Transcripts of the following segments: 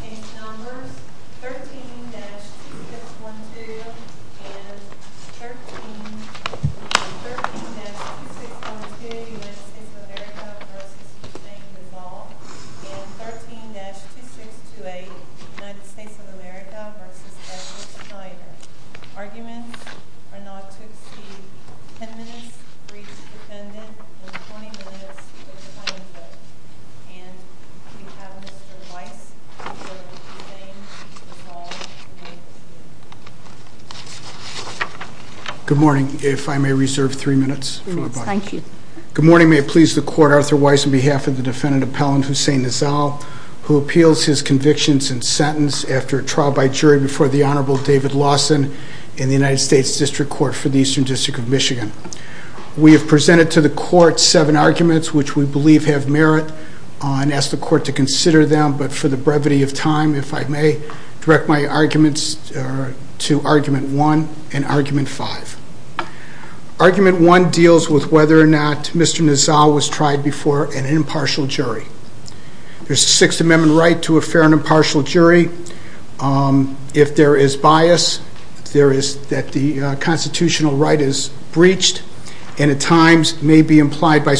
Page numbers 13-2612 and 13-2612 United States of America v. Hussein Nazzal and 13-2628 United States of America v. Edward Schneider Arguments are not to exceed 10 minutes for each defendant and 20 minutes for the plaintiff Good morning, if I may reserve three minutes. Good morning, may it please the court, Arthur Weiss on behalf of the defendant Appellant Hussein Nazzal who appeals his convictions and sentence after a trial by jury before the Honorable David Lawson in the United States District Court for the Eastern District of Michigan. We have presented to the court seven and ask the court to consider them but for the brevity of time if I may direct my arguments to argument one and argument five. Argument one deals with whether or not Mr. Nazzal was tried before an impartial jury. There's a sixth amendment right to a fair and impartial jury if there is bias there is that the constitutional right is breached and at times may be implied by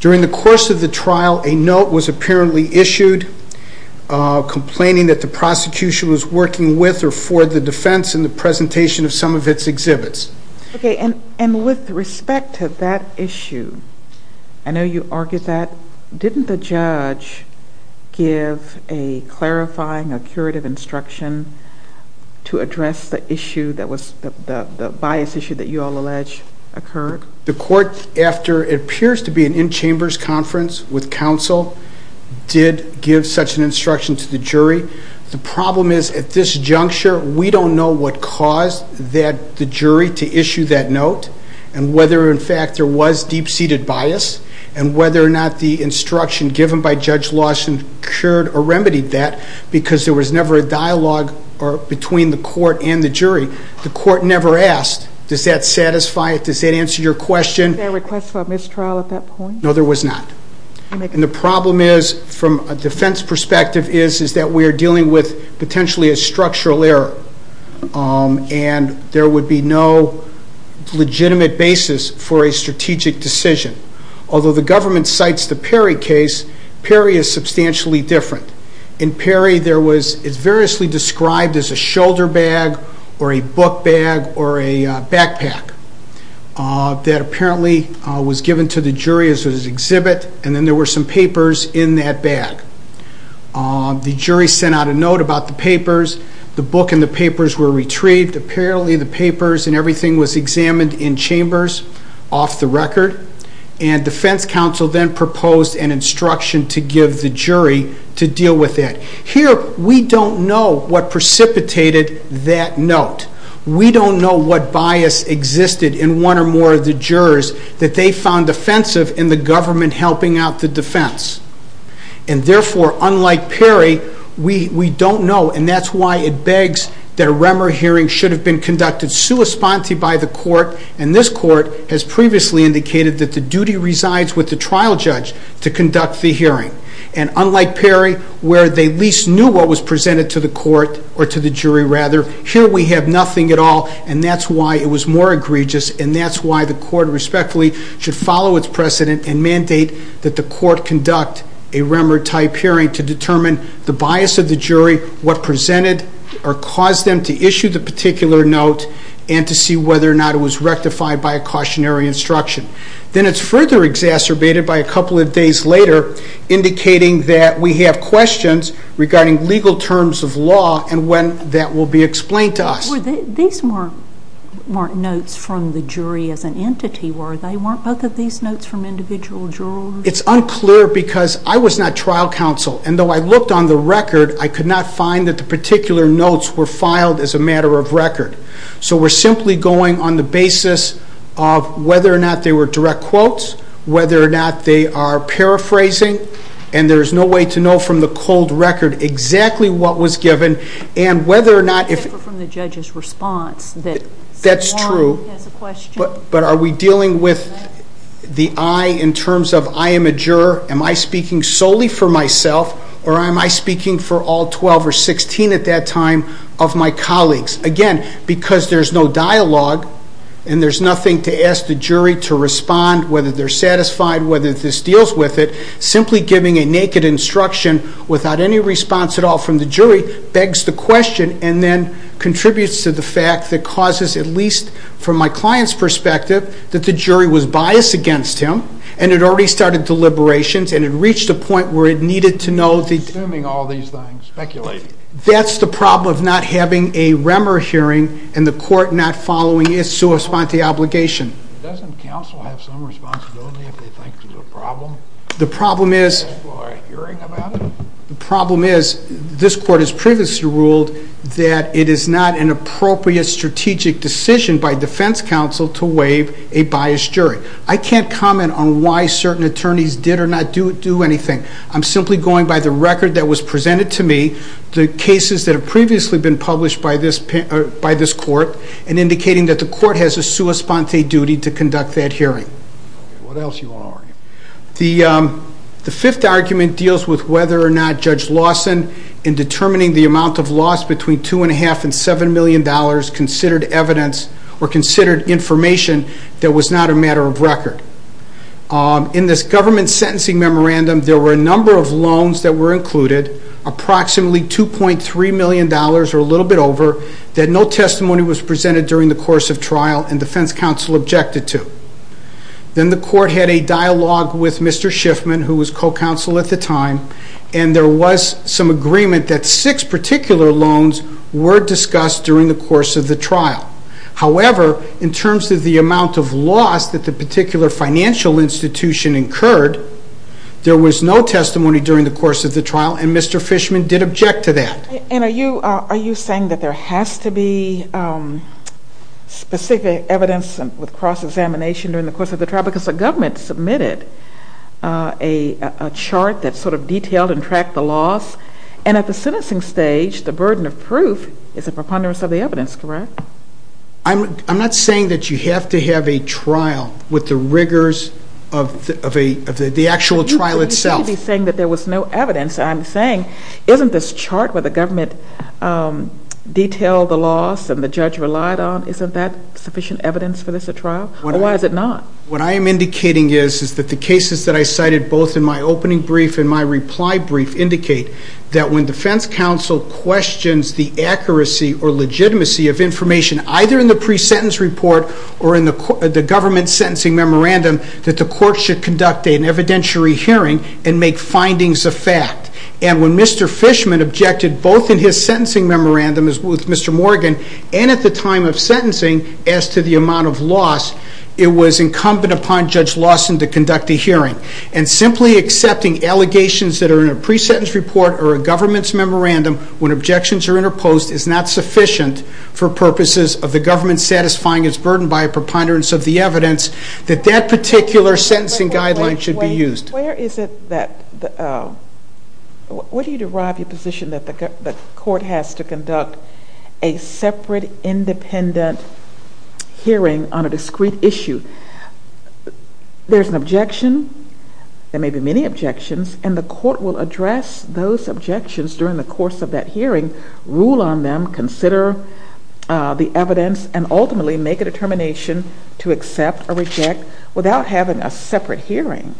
during the course of the trial a note was apparently issued complaining that the prosecution was working with or for the defense in the presentation of some of its exhibits. Okay and and with respect to that issue I know you argued that didn't the judge give a clarifying a curative instruction to address the issue that was the the bias issue that you all allege occurred? The court after it appears to be an in chambers conference with counsel did give such an instruction to the jury. The problem is at this juncture we don't know what caused that the jury to issue that note and whether in fact there was deep-seated bias and whether or not the instruction given by Judge Lawson cured or remedied that because there was never a dialogue or between the court and the request for a mistrial at that point? No there was not and the problem is from a defense perspective is is that we are dealing with potentially a structural error and there would be no legitimate basis for a strategic decision. Although the government cites the Perry case, Perry is substantially different. In Perry there was it's variously described as a shoulder bag or a book bag or a backpack that apparently was given to the jury as an exhibit and then there were some papers in that bag. The jury sent out a note about the papers, the book and the papers were retrieved, apparently the papers and everything was examined in chambers off the record and defense counsel then proposed an instruction to give the jury to deal with that. Here we don't know what precipitated that note. We don't know what bias existed in one or more of the jurors that they found offensive in the government helping out the defense and therefore unlike Perry, we don't know and that's why it begs that a REMER hearing should have been conducted sui sponte by the court and this court has previously indicated that the duty resides with the trial judge to conduct the hearing and unlike Perry where they least knew what was presented to the court or to the jury rather, here we have nothing at all and that's why it was more egregious and that's why the court respectfully should follow its precedent and mandate that the court conduct a REMER type hearing to determine the bias of the jury, what presented or caused them to issue the particular note and to see whether or not it was rectified by a cautionary instruction. Then it's further exacerbated by a couple of days later indicating that we have questions regarding legal terms of law and when that will be explained to us. These weren't notes from the jury as an entity were they? Weren't both of these notes from individual jurors? It's unclear because I was not trial counsel and though I looked on the record, I could not find that the particular notes were filed as a matter of record. So we're simply going on the basis of whether or not they were direct quotes, whether or not they are paraphrasing and there's no way to know from the cold record exactly what was given and whether or not... Except from the judge's response that Warren has a question. That's true, but are we dealing with the I in terms of I am a juror, am I speaking solely for myself or am I speaking for all 12 or 16 at that time of my colleagues? Again, because there's no dialogue and there's nothing to ask the jury to respond whether they're satisfied, whether this deals with it, simply giving a naked instruction without any response at all from the jury begs the question and then contributes to the fact that causes at least from my client's perspective that the jury was biased against him and had already started deliberations and had reached a point where it needed to know... Assuming all these things, speculating. That's the problem of not having a REMER hearing and the court not following its obligation. The problem is this court has previously ruled that it is not an appropriate strategic decision by defense counsel to waive a biased jury. I can't comment on why certain attorneys did or not do anything. I'm simply going by the record that was presented to me, the cases that have previously been published by this court and indicating that the court has a sua sponte duty to conduct that hearing. What else do you want to argue? The fifth argument deals with whether or not Judge Lawson in determining the amount of loss between $2.5 and $7 million considered evidence or considered information that was not a matter of record. In this government sentencing memorandum, there were a number of loans that $2.3 million or a little bit over, that no testimony was presented during the course of trial and defense counsel objected to. Then the court had a dialogue with Mr. Shiffman, who was co-counsel at the time, and there was some agreement that six particular loans were discussed during the course of the trial. However, in terms of the amount of loss that the particular financial institution incurred, there was no testimony during the course of the trial and Mr. Fishman did object to that. And are you saying that there has to be specific evidence with cross-examination during the course of the trial? Because the government submitted a chart that sort of detailed and tracked the loss, and at the sentencing stage, the burden of proof is a preponderance of the evidence, correct? I'm not saying that you have to have a trial with the rigors of the actual trial itself. There was no evidence. I'm saying, isn't this chart where the government detailed the loss and the judge relied on, isn't that sufficient evidence for this trial? Or why is it not? What I am indicating is that the cases that I cited both in my opening brief and my reply brief indicate that when defense counsel questions the accuracy or legitimacy of information, either in the pre-sentence report or in the government sentencing memorandum, that the court should conduct an evidentiary hearing and make findings of fact. And when Mr. Fishman objected both in his sentencing memorandum with Mr. Morgan and at the time of sentencing as to the amount of loss, it was incumbent upon Judge Lawson to conduct a hearing. And simply accepting allegations that are in a pre-sentence report or a government's memorandum when objections are interposed is not sufficient for purposes of the government satisfying its sentencing guidelines. Where do you derive your position that the court has to conduct a separate independent hearing on a discrete issue? There's an objection, there may be many objections, and the court will address those objections during the course of that hearing, rule on them, consider the evidence, and ultimately make a determination to accept or reject without having a separate hearing.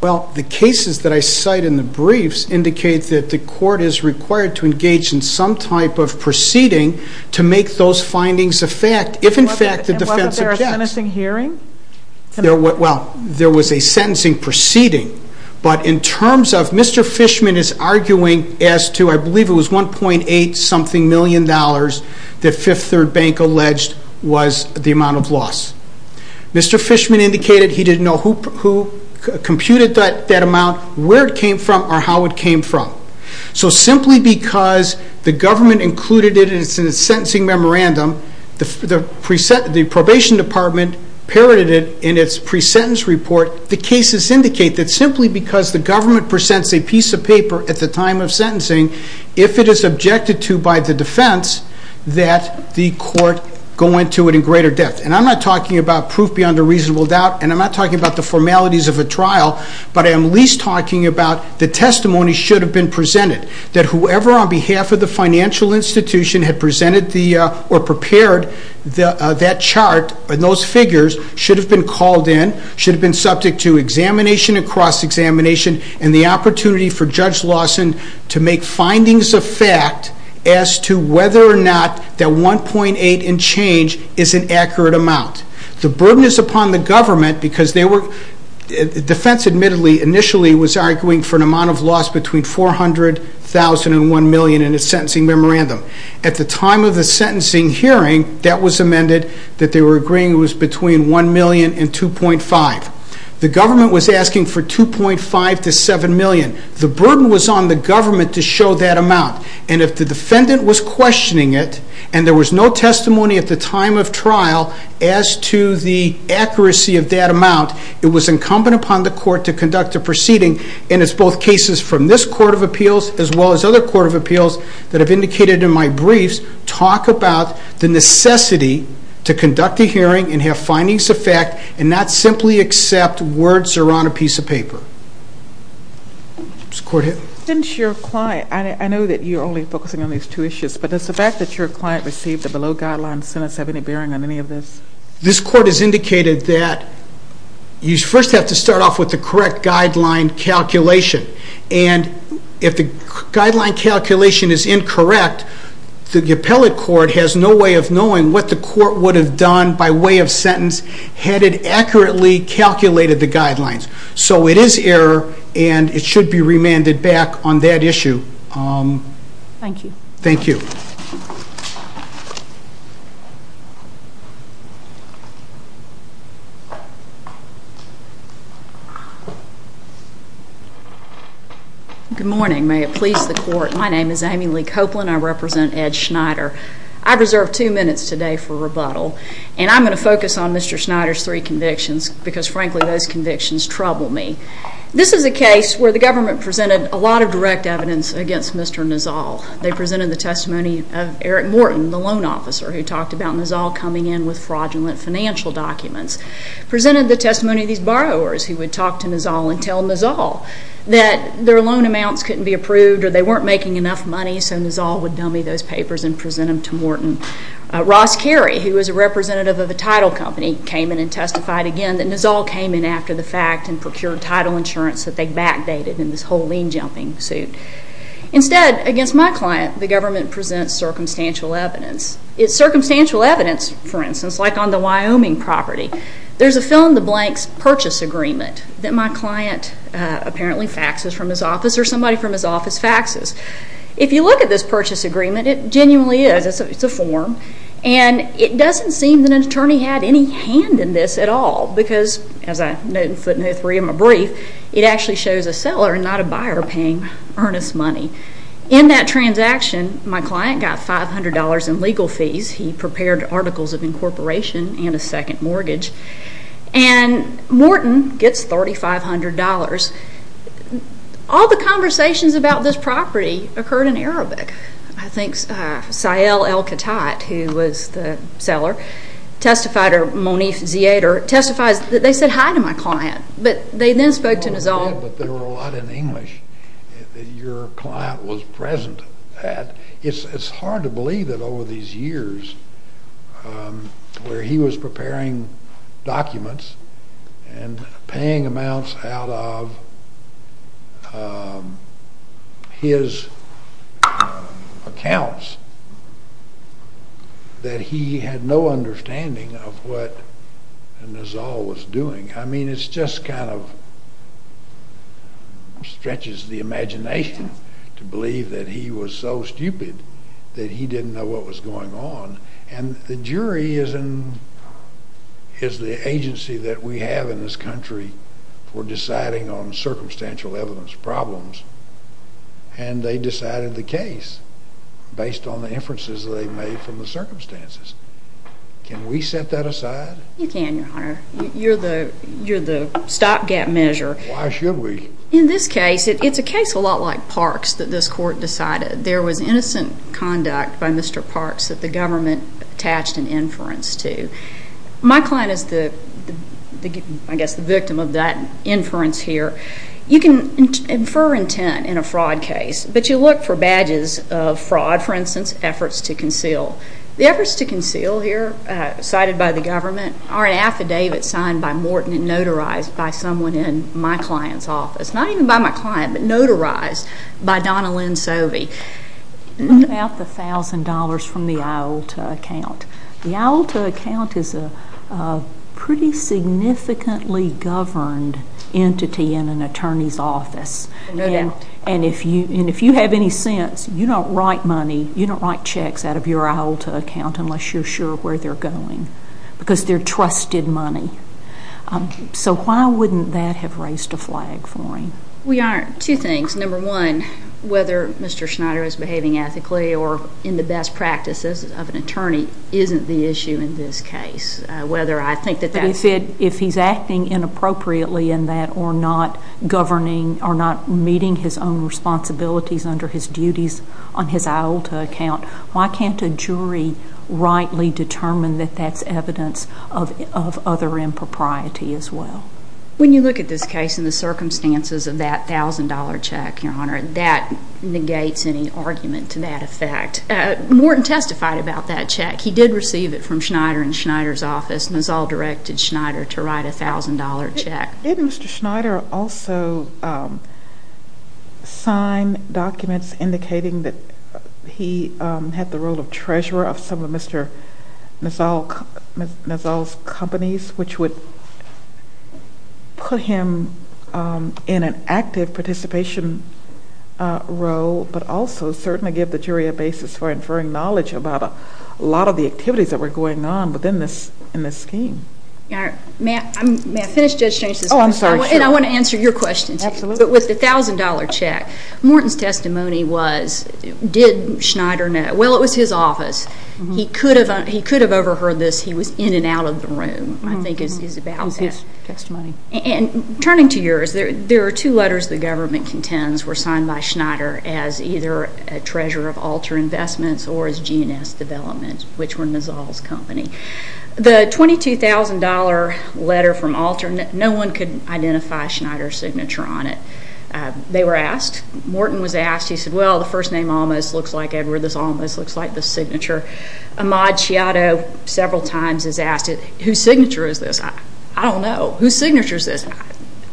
Well, the cases that I cite in the briefs indicate that the court is required to engage in some type of proceeding to make those findings of fact, if in fact the defense objects. And wasn't there a sentencing hearing? Well, there was a sentencing proceeding, but in terms of Mr. Fishman is arguing as to, I believe it was $1.8 something million that Fifth Third Bank alleged was the amount of loss. Mr. Fishman indicated he didn't know who computed that amount, where it came from, or how it came from. So simply because the government included it in its sentencing memorandum, the probation department parroted it in its pre-sentence report, the cases indicate that simply because the government presents a piece of paper at the time of sentencing, if it is objected to by the defense, that the court go into it in greater depth. And I'm not about proof beyond a reasonable doubt, and I'm not talking about the formalities of a trial, but I am at least talking about the testimony should have been presented, that whoever on behalf of the financial institution had presented or prepared that chart and those figures should have been called in, should have been subject to examination and cross-examination, and the opportunity for Judge Lawson to make findings of fact as to whether or not that $1.8 and change is an accurate amount. The burden is upon the government because defense admittedly initially was arguing for an amount of loss between $400,000 and $1 million in its sentencing memorandum. At the time of the sentencing hearing, that was amended, that they were agreeing it was between $1 million and $2.5 million. The government was asking for $2.5 million to $7 million. The burden was on the government to show that amount, and if the defendant was questioning it, and there was no testimony at the time of trial as to the accuracy of that amount, it was incumbent upon the court to conduct a proceeding, and it's both cases from this Court of Appeals as well as other Court of Appeals that have indicated in my briefs, talk about the necessity to conduct a hearing and have findings of fact and not simply accept words around a piece of paper. Since you're quiet, I know that you're only focusing on these two issues, but does the fact that your client received a below-guideline sentence have any bearing on any of this? This Court has indicated that you first have to start off with the correct guideline calculation, and if the guideline calculation is incorrect, the appellate court has no way of knowing what the court would have done by way of sentence had it accurately calculated the guidelines. So it is error, and it should be remanded back on that issue. Thank you. Good morning. May it please the Court. My name is Amy Lee Copeland. I represent Ed Schneider. I've reserved two minutes today for rebuttal, and I'm going to focus on Mr. Schneider's three convictions because, frankly, those convictions trouble me. This is a case where the government presented a lot of direct evidence against Mr. Nizal. They presented the testimony of Eric Morton, the loan officer who talked about Nizal coming in with fraudulent financial documents, presented the testimony of these borrowers who would talk to Nizal and tell Nizal that their loan amounts couldn't be approved or they weren't making enough money, so Nizal would dummy those papers and present them to Morton. Ross Carey, who was a representative of a title company, came in and testified again that Nizal came in after the fact and procured title insurance that they backdated in this whole lien-jumping suit. Instead, against my client, the government presents circumstantial evidence. It's circumstantial evidence, for instance, like on the Wyoming property. There's a fill-in-the-blanks purchase agreement that my client apparently faxes from his office or somebody from his office faxes. If you look at this purchase agreement, it genuinely is. It's a form, and it doesn't seem that an attorney had any hand in this at all because, as I note in footnote 3 of my brief, it actually shows a seller and not a buyer paying earnest money. In that transaction, my client got $500 in legal fees. He prepared articles of incorporation and a second mortgage. Morton gets $3,500. All the conversations about this property occurred in Arabic. I think Sael El-Khattayt, who was the seller, testified, or Monif Ziyad, or testifies that they said hi to my client, but they then spoke to Nizal. But there were a lot in English that your client was present at. It's hard to believe that over these years where he was preparing documents and paying amounts out of his accounts that he had no understanding of what Nizal was doing. I mean, it just kind of stretches the imagination to believe that he was so stupid that he didn't know what was going on. The jury is the agency that we have in this country for deciding on circumstantial evidence problems, and they decided the case based on the inferences they made from the circumstances. Can we set that aside? You can, your honor. You're the stopgap measure. Why should we? In this case, it's a case a lot like Parks that this court decided. There was innocent conduct by Mr. Parks that the government attached an inference to. My client is, I guess, the victim of that inference here. You can infer intent in a fraud case, but you look for badges of fraud, for instance, efforts to conceal. The efforts to conceal here cited by the government are an affidavit signed by Morton and notarized by someone in my client's office. Not even by my client, but notarized by Donna Lynn Sovey. What about the $1,000 from the IOLTA account? The IOLTA account is a pretty significantly governed entity in an attorney's office. No doubt. And if you have any sense, you don't write money, you don't write checks out of your IOLTA account unless you're sure where they're going, because they're trusted money. So why wouldn't that have raised a flag for him? We aren't. Two things. Number one, whether Mr. Schneider is behaving ethically or in the best practices of an attorney isn't the issue in this case. Whether I think that that's... But if he's acting inappropriately in that or not governing or not meeting his own responsibilities under his duties on his IOLTA account, why can't a jury rightly determine that that's evidence of other impropriety as well? When you look at this case and the circumstances of that $1,000 check, Your Honor, that negates any argument to that effect. Morton testified about that check. He did receive it from Schneider in Schneider's office. Nassau directed Schneider to write a $1,000 check. Did Mr. Schneider also sign documents indicating that he had the role of treasurer of some of Mr. Nassau's companies, which would put him in an active participation role, but also certainly give the jury a basis for inferring knowledge about a lot of the activities that were going on within this scheme. May I finish, Judge James? Oh, I'm sorry. And I want to answer your question, too. Absolutely. But with the $1,000 check, Morton's testimony was, did Schneider know? Well, it was his testimony. And turning to yours, there are two letters the government contends were signed by Schneider as either a treasurer of Alter Investments or as G&S Development, which were Nassau's company. The $22,000 letter from Alter, no one could identify Schneider's signature on it. They were asked. Morton was asked. He said, well, the first name almost looks like Edward, this almost looks like the signature. Ahmaud Shiado several times has asked it, whose signature is this? I don't know. Whose signature is this?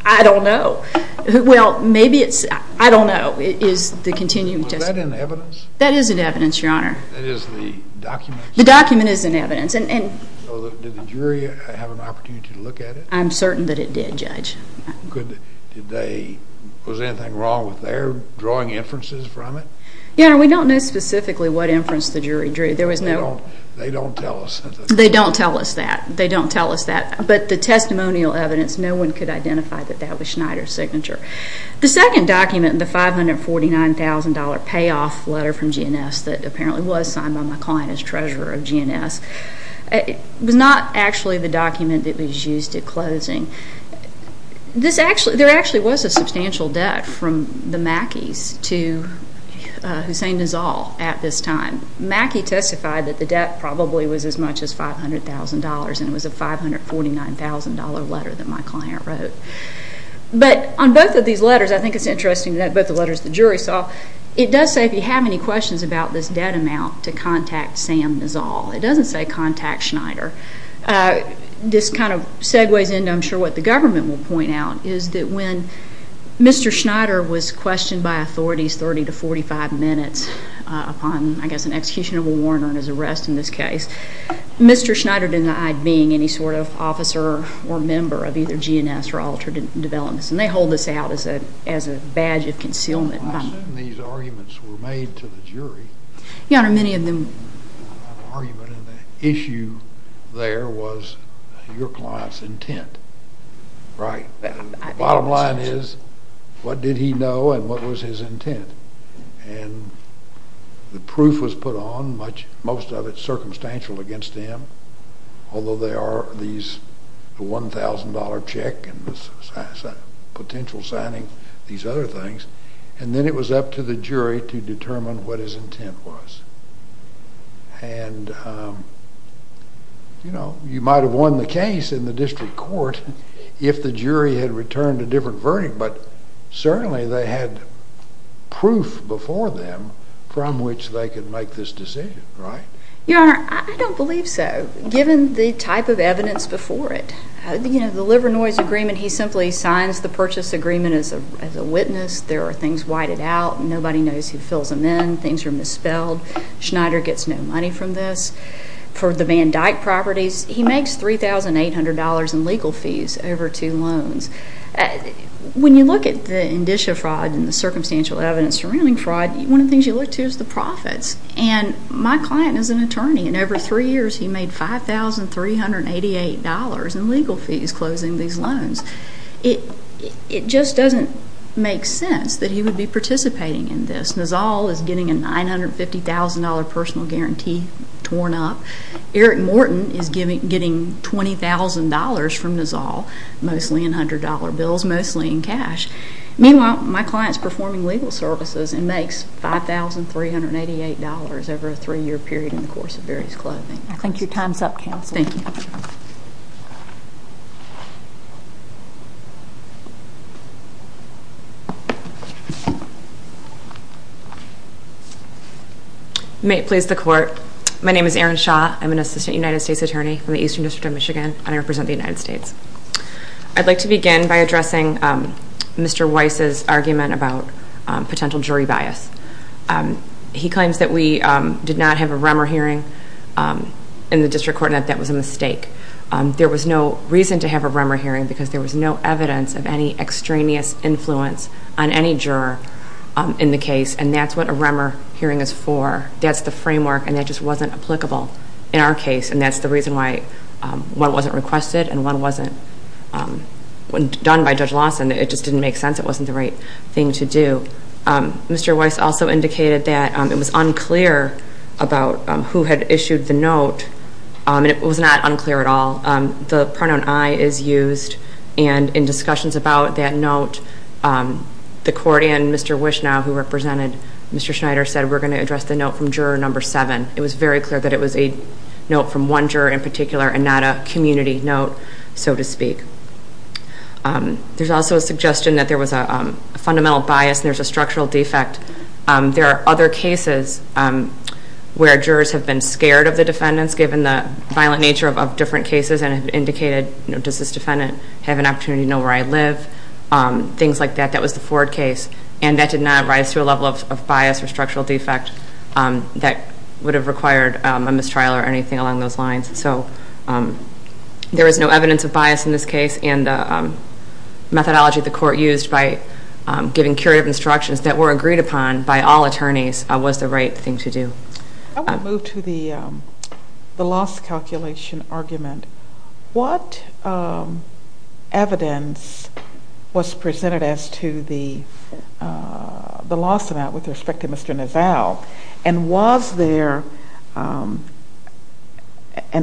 I don't know. Well, maybe it's, I don't know, is the continuing testimony. Was that in evidence? That is in evidence, Your Honor. It is the document? The document is in evidence. And did the jury have an opportunity to look at it? I'm certain that it did, Judge. Did they, was anything wrong with their drawing inferences from it? Your Honor, we don't know specifically what inference the jury drew. They don't tell us. They don't tell us that. They don't tell us that. But the testimonial evidence, no one could identify that that was Schneider's signature. The second document, the $549,000 payoff letter from G&S that apparently was signed by my client as treasurer of G&S, it was not actually the document that was used at closing. There actually was a substantial debt from the Mackeys to Hussain Nizal at this time. Mackey testified that the debt probably was as much as $500,000 and it was a $549,000 letter that my client wrote. But on both of these letters, I think it's interesting that both the letters the jury saw, it does say if you have any questions about this debt amount to contact Sam Nizal. It doesn't say contact Schneider. This kind of segues into, I'm sure, what the government will point out, is that when Mr. Schneider was questioned by authorities 30 to 45 minutes upon, I guess, an execution of a warrant or an arrest in this case, Mr. Schneider denied being any sort of officer or member of either G&S or Altered Developments. And they hold this out as a badge of concealment. I assume these arguments were made to the jury. Your Honor, many of them. The argument and the issue there was your client's intent. Right. Bottom line is, what did he know and what was his intent? And the proof was put on, most of it circumstantial against him, although there are these $1,000 check and potential signing, these other things. And then it was up to the jury to determine what his intent was. And, you know, you might have won the case in the district court if the jury had returned a different verdict. But certainly they had proof before them from which they could make this decision, right? Your Honor, I don't believe so. Given the type of evidence before it, you know, the liver noise agreement, he simply signs the purchase agreement as a witness. There are things whited out. Nobody knows who fills them in. Things are misspelled. Schneider gets no money from this. For the Van Dyke properties, he makes $3,800 in legal fees over two loans. When you look at the indicia fraud and the circumstantial evidence surrounding fraud, one of the things you look to is the profits. And my client is an attorney. And over three years, he made $5,388 in legal fees closing these loans. It just doesn't make sense that he would be participating in this. Nizal is getting a $950,000 personal guarantee torn up. Eric Morton is getting $20,000 from Nizal, mostly in $100 bills, mostly in cash. Meanwhile, my client's performing legal services and makes $5,388 over a three-year period in the course of various clothing. I think your time's up, counsel. Thank you. May it please the court. My name is Erin Shaw. I'm an assistant United States attorney from the Eastern District of Michigan, and I represent the United States. I'd like to begin by addressing Mr. Weiss's argument about potential jury bias. He claims that we did not have a Rummer hearing in the district court, and that that was a mistake. There was no reason to have a Rummer hearing because there was no evidence of any extraneous influence on any juror in the case. And that's what a Rummer hearing is for. That's the framework, and that just wasn't applicable in our case. And that's the reason why one wasn't requested and one wasn't done by Judge Lawson. It just didn't make sense. It wasn't the right thing to do. Mr. Weiss also indicated that it was unclear about who had issued the note, and it was not unclear at all. The pronoun I is used, and in discussions about that note, the court and Mr. Wishnow, who represented Mr. Schneider, said, we're going to address the note from juror number seven. It was very clear that it was a note from one juror in particular and not a community note, so to speak. There's also a suggestion that there was a fundamental bias, and there's a structural defect. There are other cases where jurors have been scared of the defendants, given the violent nature of different cases, and have indicated, does this defendant have an opportunity to know where I live? Things like that. That was the Ford case, and that did not rise to a level of bias or structural defect that would have required a mistrial or anything along those lines. So there is no evidence of bias in this case, and the methodology the court used by giving curative instructions that were agreed upon by all attorneys was the right thing to do. I want to move to the loss calculation argument. What evidence was presented as to the loss amount with respect to Mr. Nassau, and was there an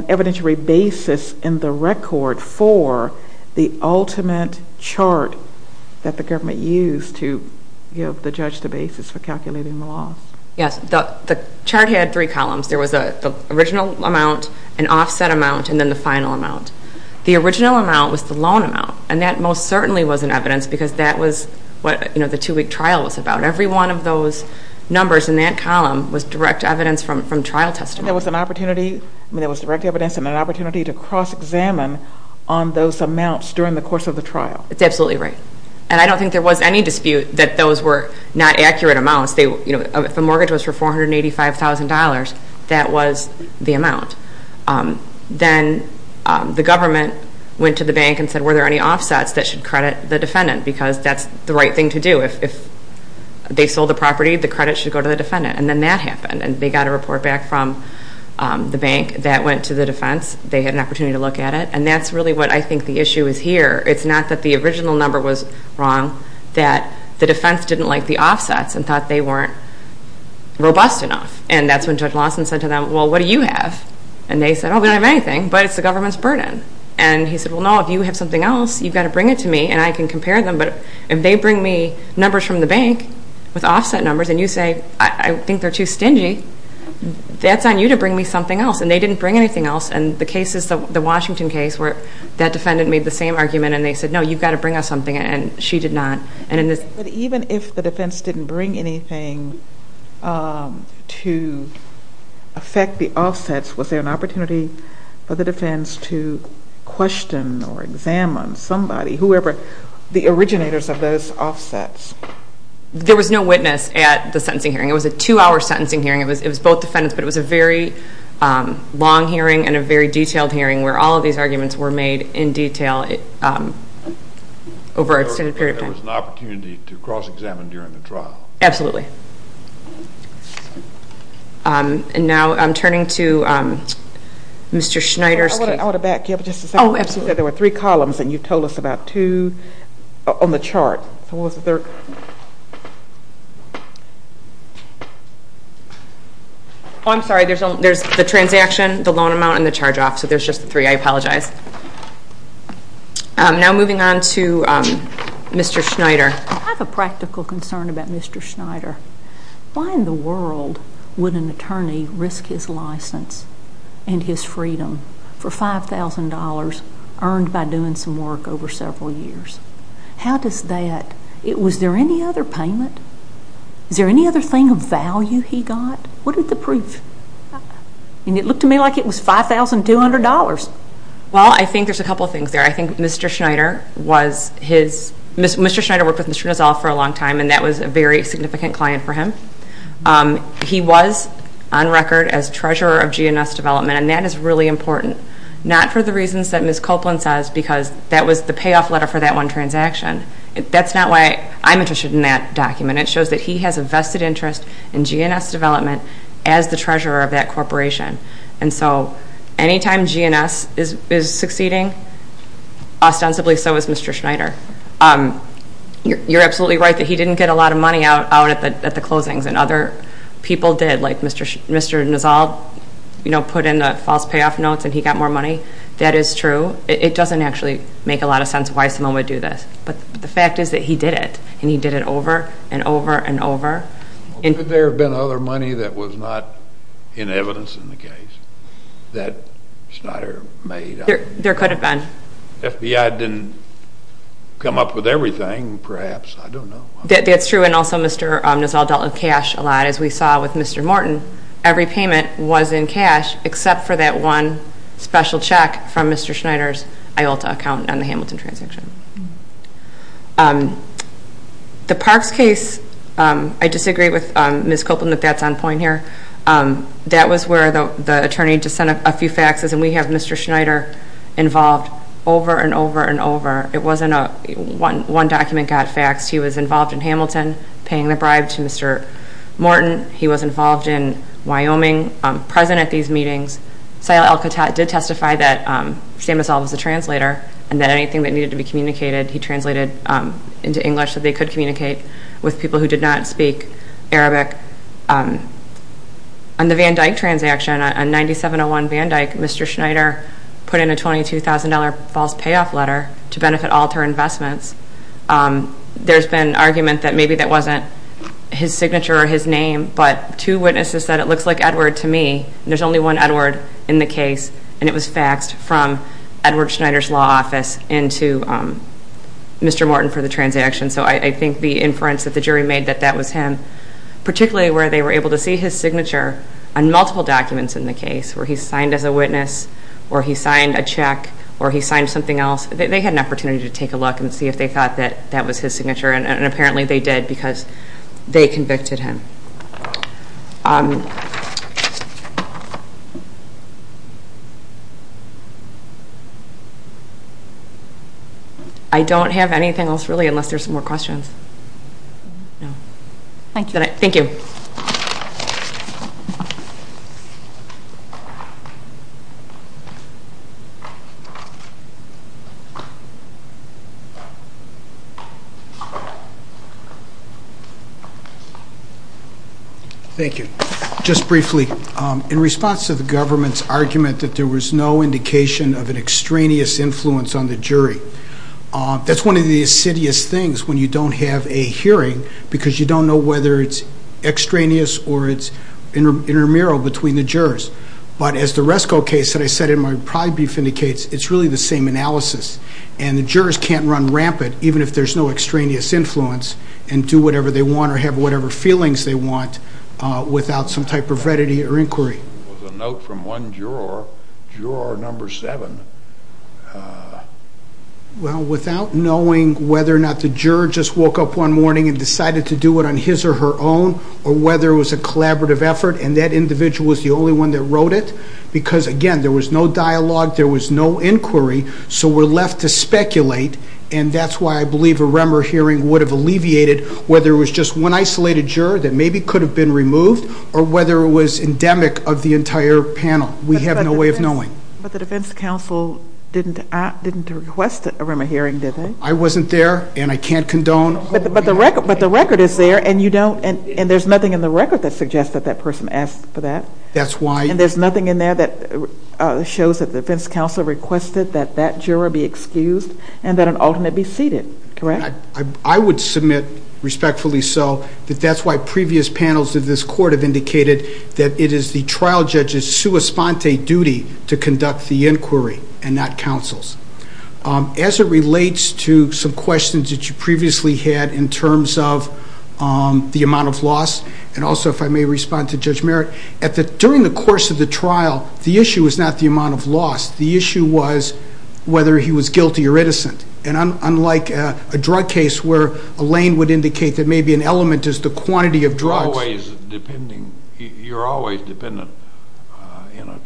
evidentiary basis in the record for the ultimate chart that the government used to give the judge the basis for calculating the loss? Yes. The chart had three columns. There was the original amount, an offset amount, and then the final amount. The original amount was the loan amount, and that most certainly was in evidence because that was what the two-week trial was about. Every one of those numbers in that column was direct evidence from trial testimony. And there was direct evidence and an opportunity to cross-examine on those amounts during the course of the trial? That's absolutely right. And I don't think there was any dispute that those were not accurate amounts. If the mortgage was for $485,000, that was the amount. Then the government went to the bank and said, were there any offsets that should credit the defendant? Because that's the right thing to do. If they sold the property, the credit should go to the defendant. And then that happened. And they got a report back from the bank that went to the defense. They had an opportunity to look at it. And that's really what I think the issue is here. It's not that the original number was wrong, that the defense didn't like the offsets and thought they weren't robust enough. And that's when Judge Lawson said to them, well, what do you have? And they said, oh, we don't have anything, but it's the government's burden. And he said, well, no, if you have something else, you've got to bring it to me. And I can compare them. But if they bring me numbers from the bank with offset numbers and you say, I think they're too stingy, that's on you to bring me something else. And they didn't bring anything else. And the case is the Washington case where that defendant made the same argument. And they said, no, you've got to bring us something. And she did not. And in this... But even if the defense didn't bring anything to affect the offsets, was there an opportunity for the defense to question or examine somebody, whoever the originators of those offsets? There was no witness at the sentencing hearing. It was a two-hour sentencing hearing. It was both defendants. But it was a very long hearing and a very detailed hearing where all of these arguments were made in detail over an extended period of time. So there was an opportunity to cross-examine during the trial. Absolutely. And now I'm turning to Mr. Schneider's case. I want to back you up just a second. Oh, absolutely. Because you said there were three columns. And you told us about two on the chart. So what was the third? Oh, I'm sorry. There's the transaction, the loan amount, and the charge-off. So there's just the three. I apologize. Now moving on to Mr. Schneider. I have a practical concern about Mr. Schneider. Why in the world would an attorney risk his license and his freedom for $5,000 earned by doing some work over several years? How does that? Was there any other payment? Is there any other thing of value he got? What is the proof? And it looked to me like it was $5,200. Well, I think there's a couple of things there. I think Mr. Schneider worked with Mr. Nassau for a long time. And that was a very significant client for him. He was on record as treasurer of GNS Development. And that is really important, not for the reasons that Ms. Copeland says, because that was the payoff letter for that one transaction. That's not why I'm interested in that document. It shows that he has a vested interest in GNS Development as the treasurer of that corporation. And so anytime GNS is succeeding, ostensibly so is Mr. Schneider. You're absolutely right that he didn't get a lot of money out at the closings. And other people did, like Mr. Nassau put in the false payoff notes and he got more money. That is true. It doesn't actually make a lot of sense why someone would do this. But the fact is that he did it. And he did it over and over and over. Well, could there have been other money that was not in evidence in the case that Schneider made? There could have been. FBI didn't come up with everything, perhaps. I don't know. That's true. And also Mr. Nassau dealt with cash a lot, as we saw with Mr. Morton. Every payment was in cash except for that one special check from Mr. Schneider's IULTA account on the Hamilton transaction. The Parks case, I disagree with Ms. Copeland that that's on point here. That was where the attorney just sent a few faxes. And we have Mr. Schneider involved over and over and over. It wasn't one document got faxed. He was involved in Hamilton, paying the bribe to Mr. Morton. He was involved in Wyoming, present at these meetings. Sial El-Khattat did testify that Sam Asal was the translator and that anything that needed to be communicated, he translated into English so they could communicate with people who did not speak Arabic. On the Van Dyke transaction, on 9701 Van Dyke, Mr. Schneider put in a $22,000 false payoff letter to benefit alter investments. There's been argument that maybe that wasn't his signature or his name. But two witnesses said, it looks like Edward to me. There's only one Edward in the case. And it was faxed from Edward Schneider's law office into Mr. Morton for the transaction. So I think the inference that the jury made that that was him. Particularly where they were able to see his signature on multiple documents in the case, where he signed as a witness, or he signed a check, or he signed something else. They had an opportunity to take a look and see if they thought that that was his signature. And apparently they did because they convicted him. I don't have anything else really, unless there's more questions. No. Thank you. Thank you. Just briefly, in response to the government's argument that there was no indication of an extraneous influence on the jury. That's one of the insidious things when you don't have a hearing, because you don't know whether it's extraneous or it's intramural between the jurors. But as the Resco case that I said in my pride brief indicates, it's really the same analysis. And the jurors can't run rampant, even if there's no extraneous influence, and do whatever they want or have whatever feelings they want, without some type of readity or inquiry. A note from one juror, juror number seven. Well, without knowing whether or not the juror just woke up one morning and decided to do it on his or her own, or whether it was a collaborative effort, and that individual was the only one that wrote it, because again, there was no dialogue, there was no inquiry, so we're left to speculate. And that's why I believe a Remmer hearing would have alleviated whether it was just one isolated juror that maybe could have been removed, or whether it was endemic of the entire panel. We have no way of knowing. But the defense counsel didn't request a Remmer hearing, did they? I wasn't there, and I can't condone... But the record is there, and there's nothing in the record that suggests that that person asked for that. That's why... And there's nothing in there that shows that the defense counsel requested that that juror be excused and that an alternate be seated, correct? I would submit, respectfully so, that that's why previous panels of this court have indicated that it is the trial judge's sua sponte duty to conduct the inquiry and not counsel's. As it relates to some questions that you previously had in terms of the amount of loss, and also if I may respond to Judge Merritt, during the course of the trial, the issue was not the amount of loss. The issue was whether he was guilty or innocent. And unlike a drug case where Elaine would indicate that maybe an element is the quantity of drugs... You're always depending... You're always dependent, in a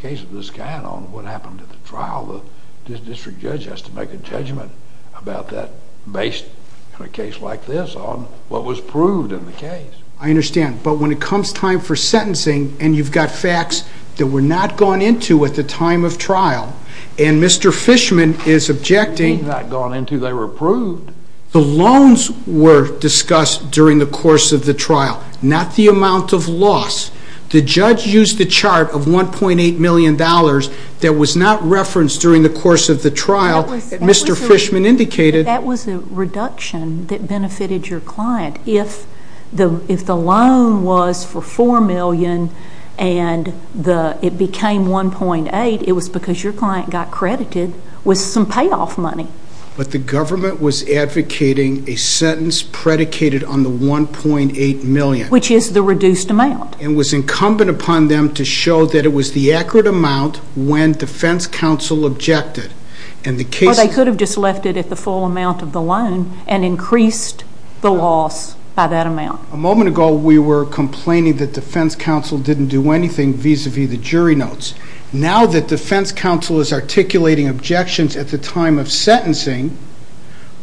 case of this kind, on what happened at the trial. The district judge has to make a judgment about that, based on a case like this, on what was proved in the case. I understand, but when it comes time for sentencing, and you've got facts that were not gone into at the time of trial, and Mr. Fishman is objecting... Not gone into, they were approved. The loans were discussed during the course of the trial, not the amount of loss. The judge used the chart of $1.8 million that was not referenced during the course of the trial. Mr. Fishman indicated... That was a reduction that benefited your client. If the loan was for $4 million and it became $1.8, it was because your client got credited with some payoff money. But the government was advocating a sentence predicated on the $1.8 million. Which is the reduced amount. And was incumbent upon them to show that it was the accurate amount when defense counsel objected. They could have just left it at the full amount of the loan, and increased the loss by that amount. A moment ago, we were complaining that defense counsel didn't do anything vis-a-vis the jury notes. Now that defense counsel is articulating objections at the time of sentencing,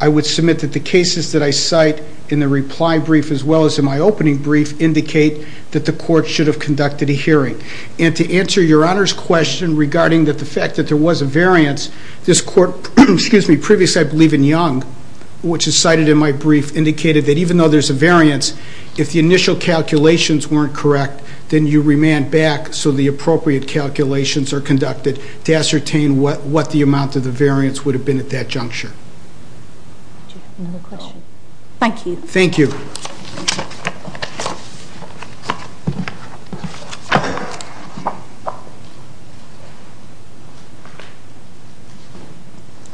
I would submit that the cases that I cite in the reply brief, as well as in my opening brief, indicate that the court should have conducted a hearing. And to answer your honor's question regarding the fact that there was a variance, this court, previous I believe in Young, which is cited in my brief, indicated that even though there's a variance, if the initial calculations weren't correct, then you remand back so the appropriate calculations are conducted to ascertain what the amount of the variance would have been at that juncture. Do you have another question? Thank you. Thank you.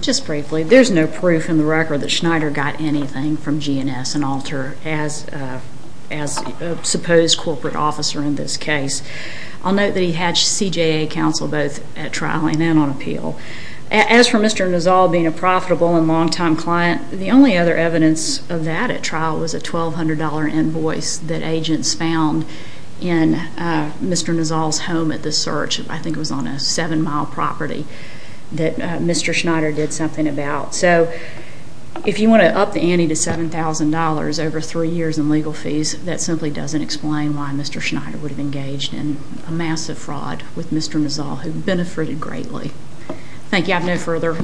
Just briefly, there's no proof in the record that Schneider got anything from G&S and Alter as a supposed corporate officer in this case. I'll note that he hatched CJA counsel both at trial and then on appeal. As for Mr. Nizal being a profitable and long-time client, the only other evidence of that at trial was a $1,200 invoice that agents found in Mr. Nizal's home at the search. I think it was on a seven-mile property that Mr. Schneider did something about. So if you want to up the ante to $7,000 over three years in legal fees, that simply doesn't explain why Mr. Schneider would have engaged in a massive fraud with Mr. Nizal, who benefited greatly. Thank you. I have no further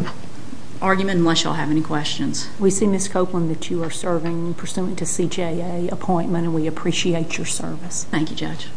argument unless y'all have any questions. We see, Ms. Copeland, that you are serving pursuant to CJA appointment, and we appreciate your service. Thank you, Judge.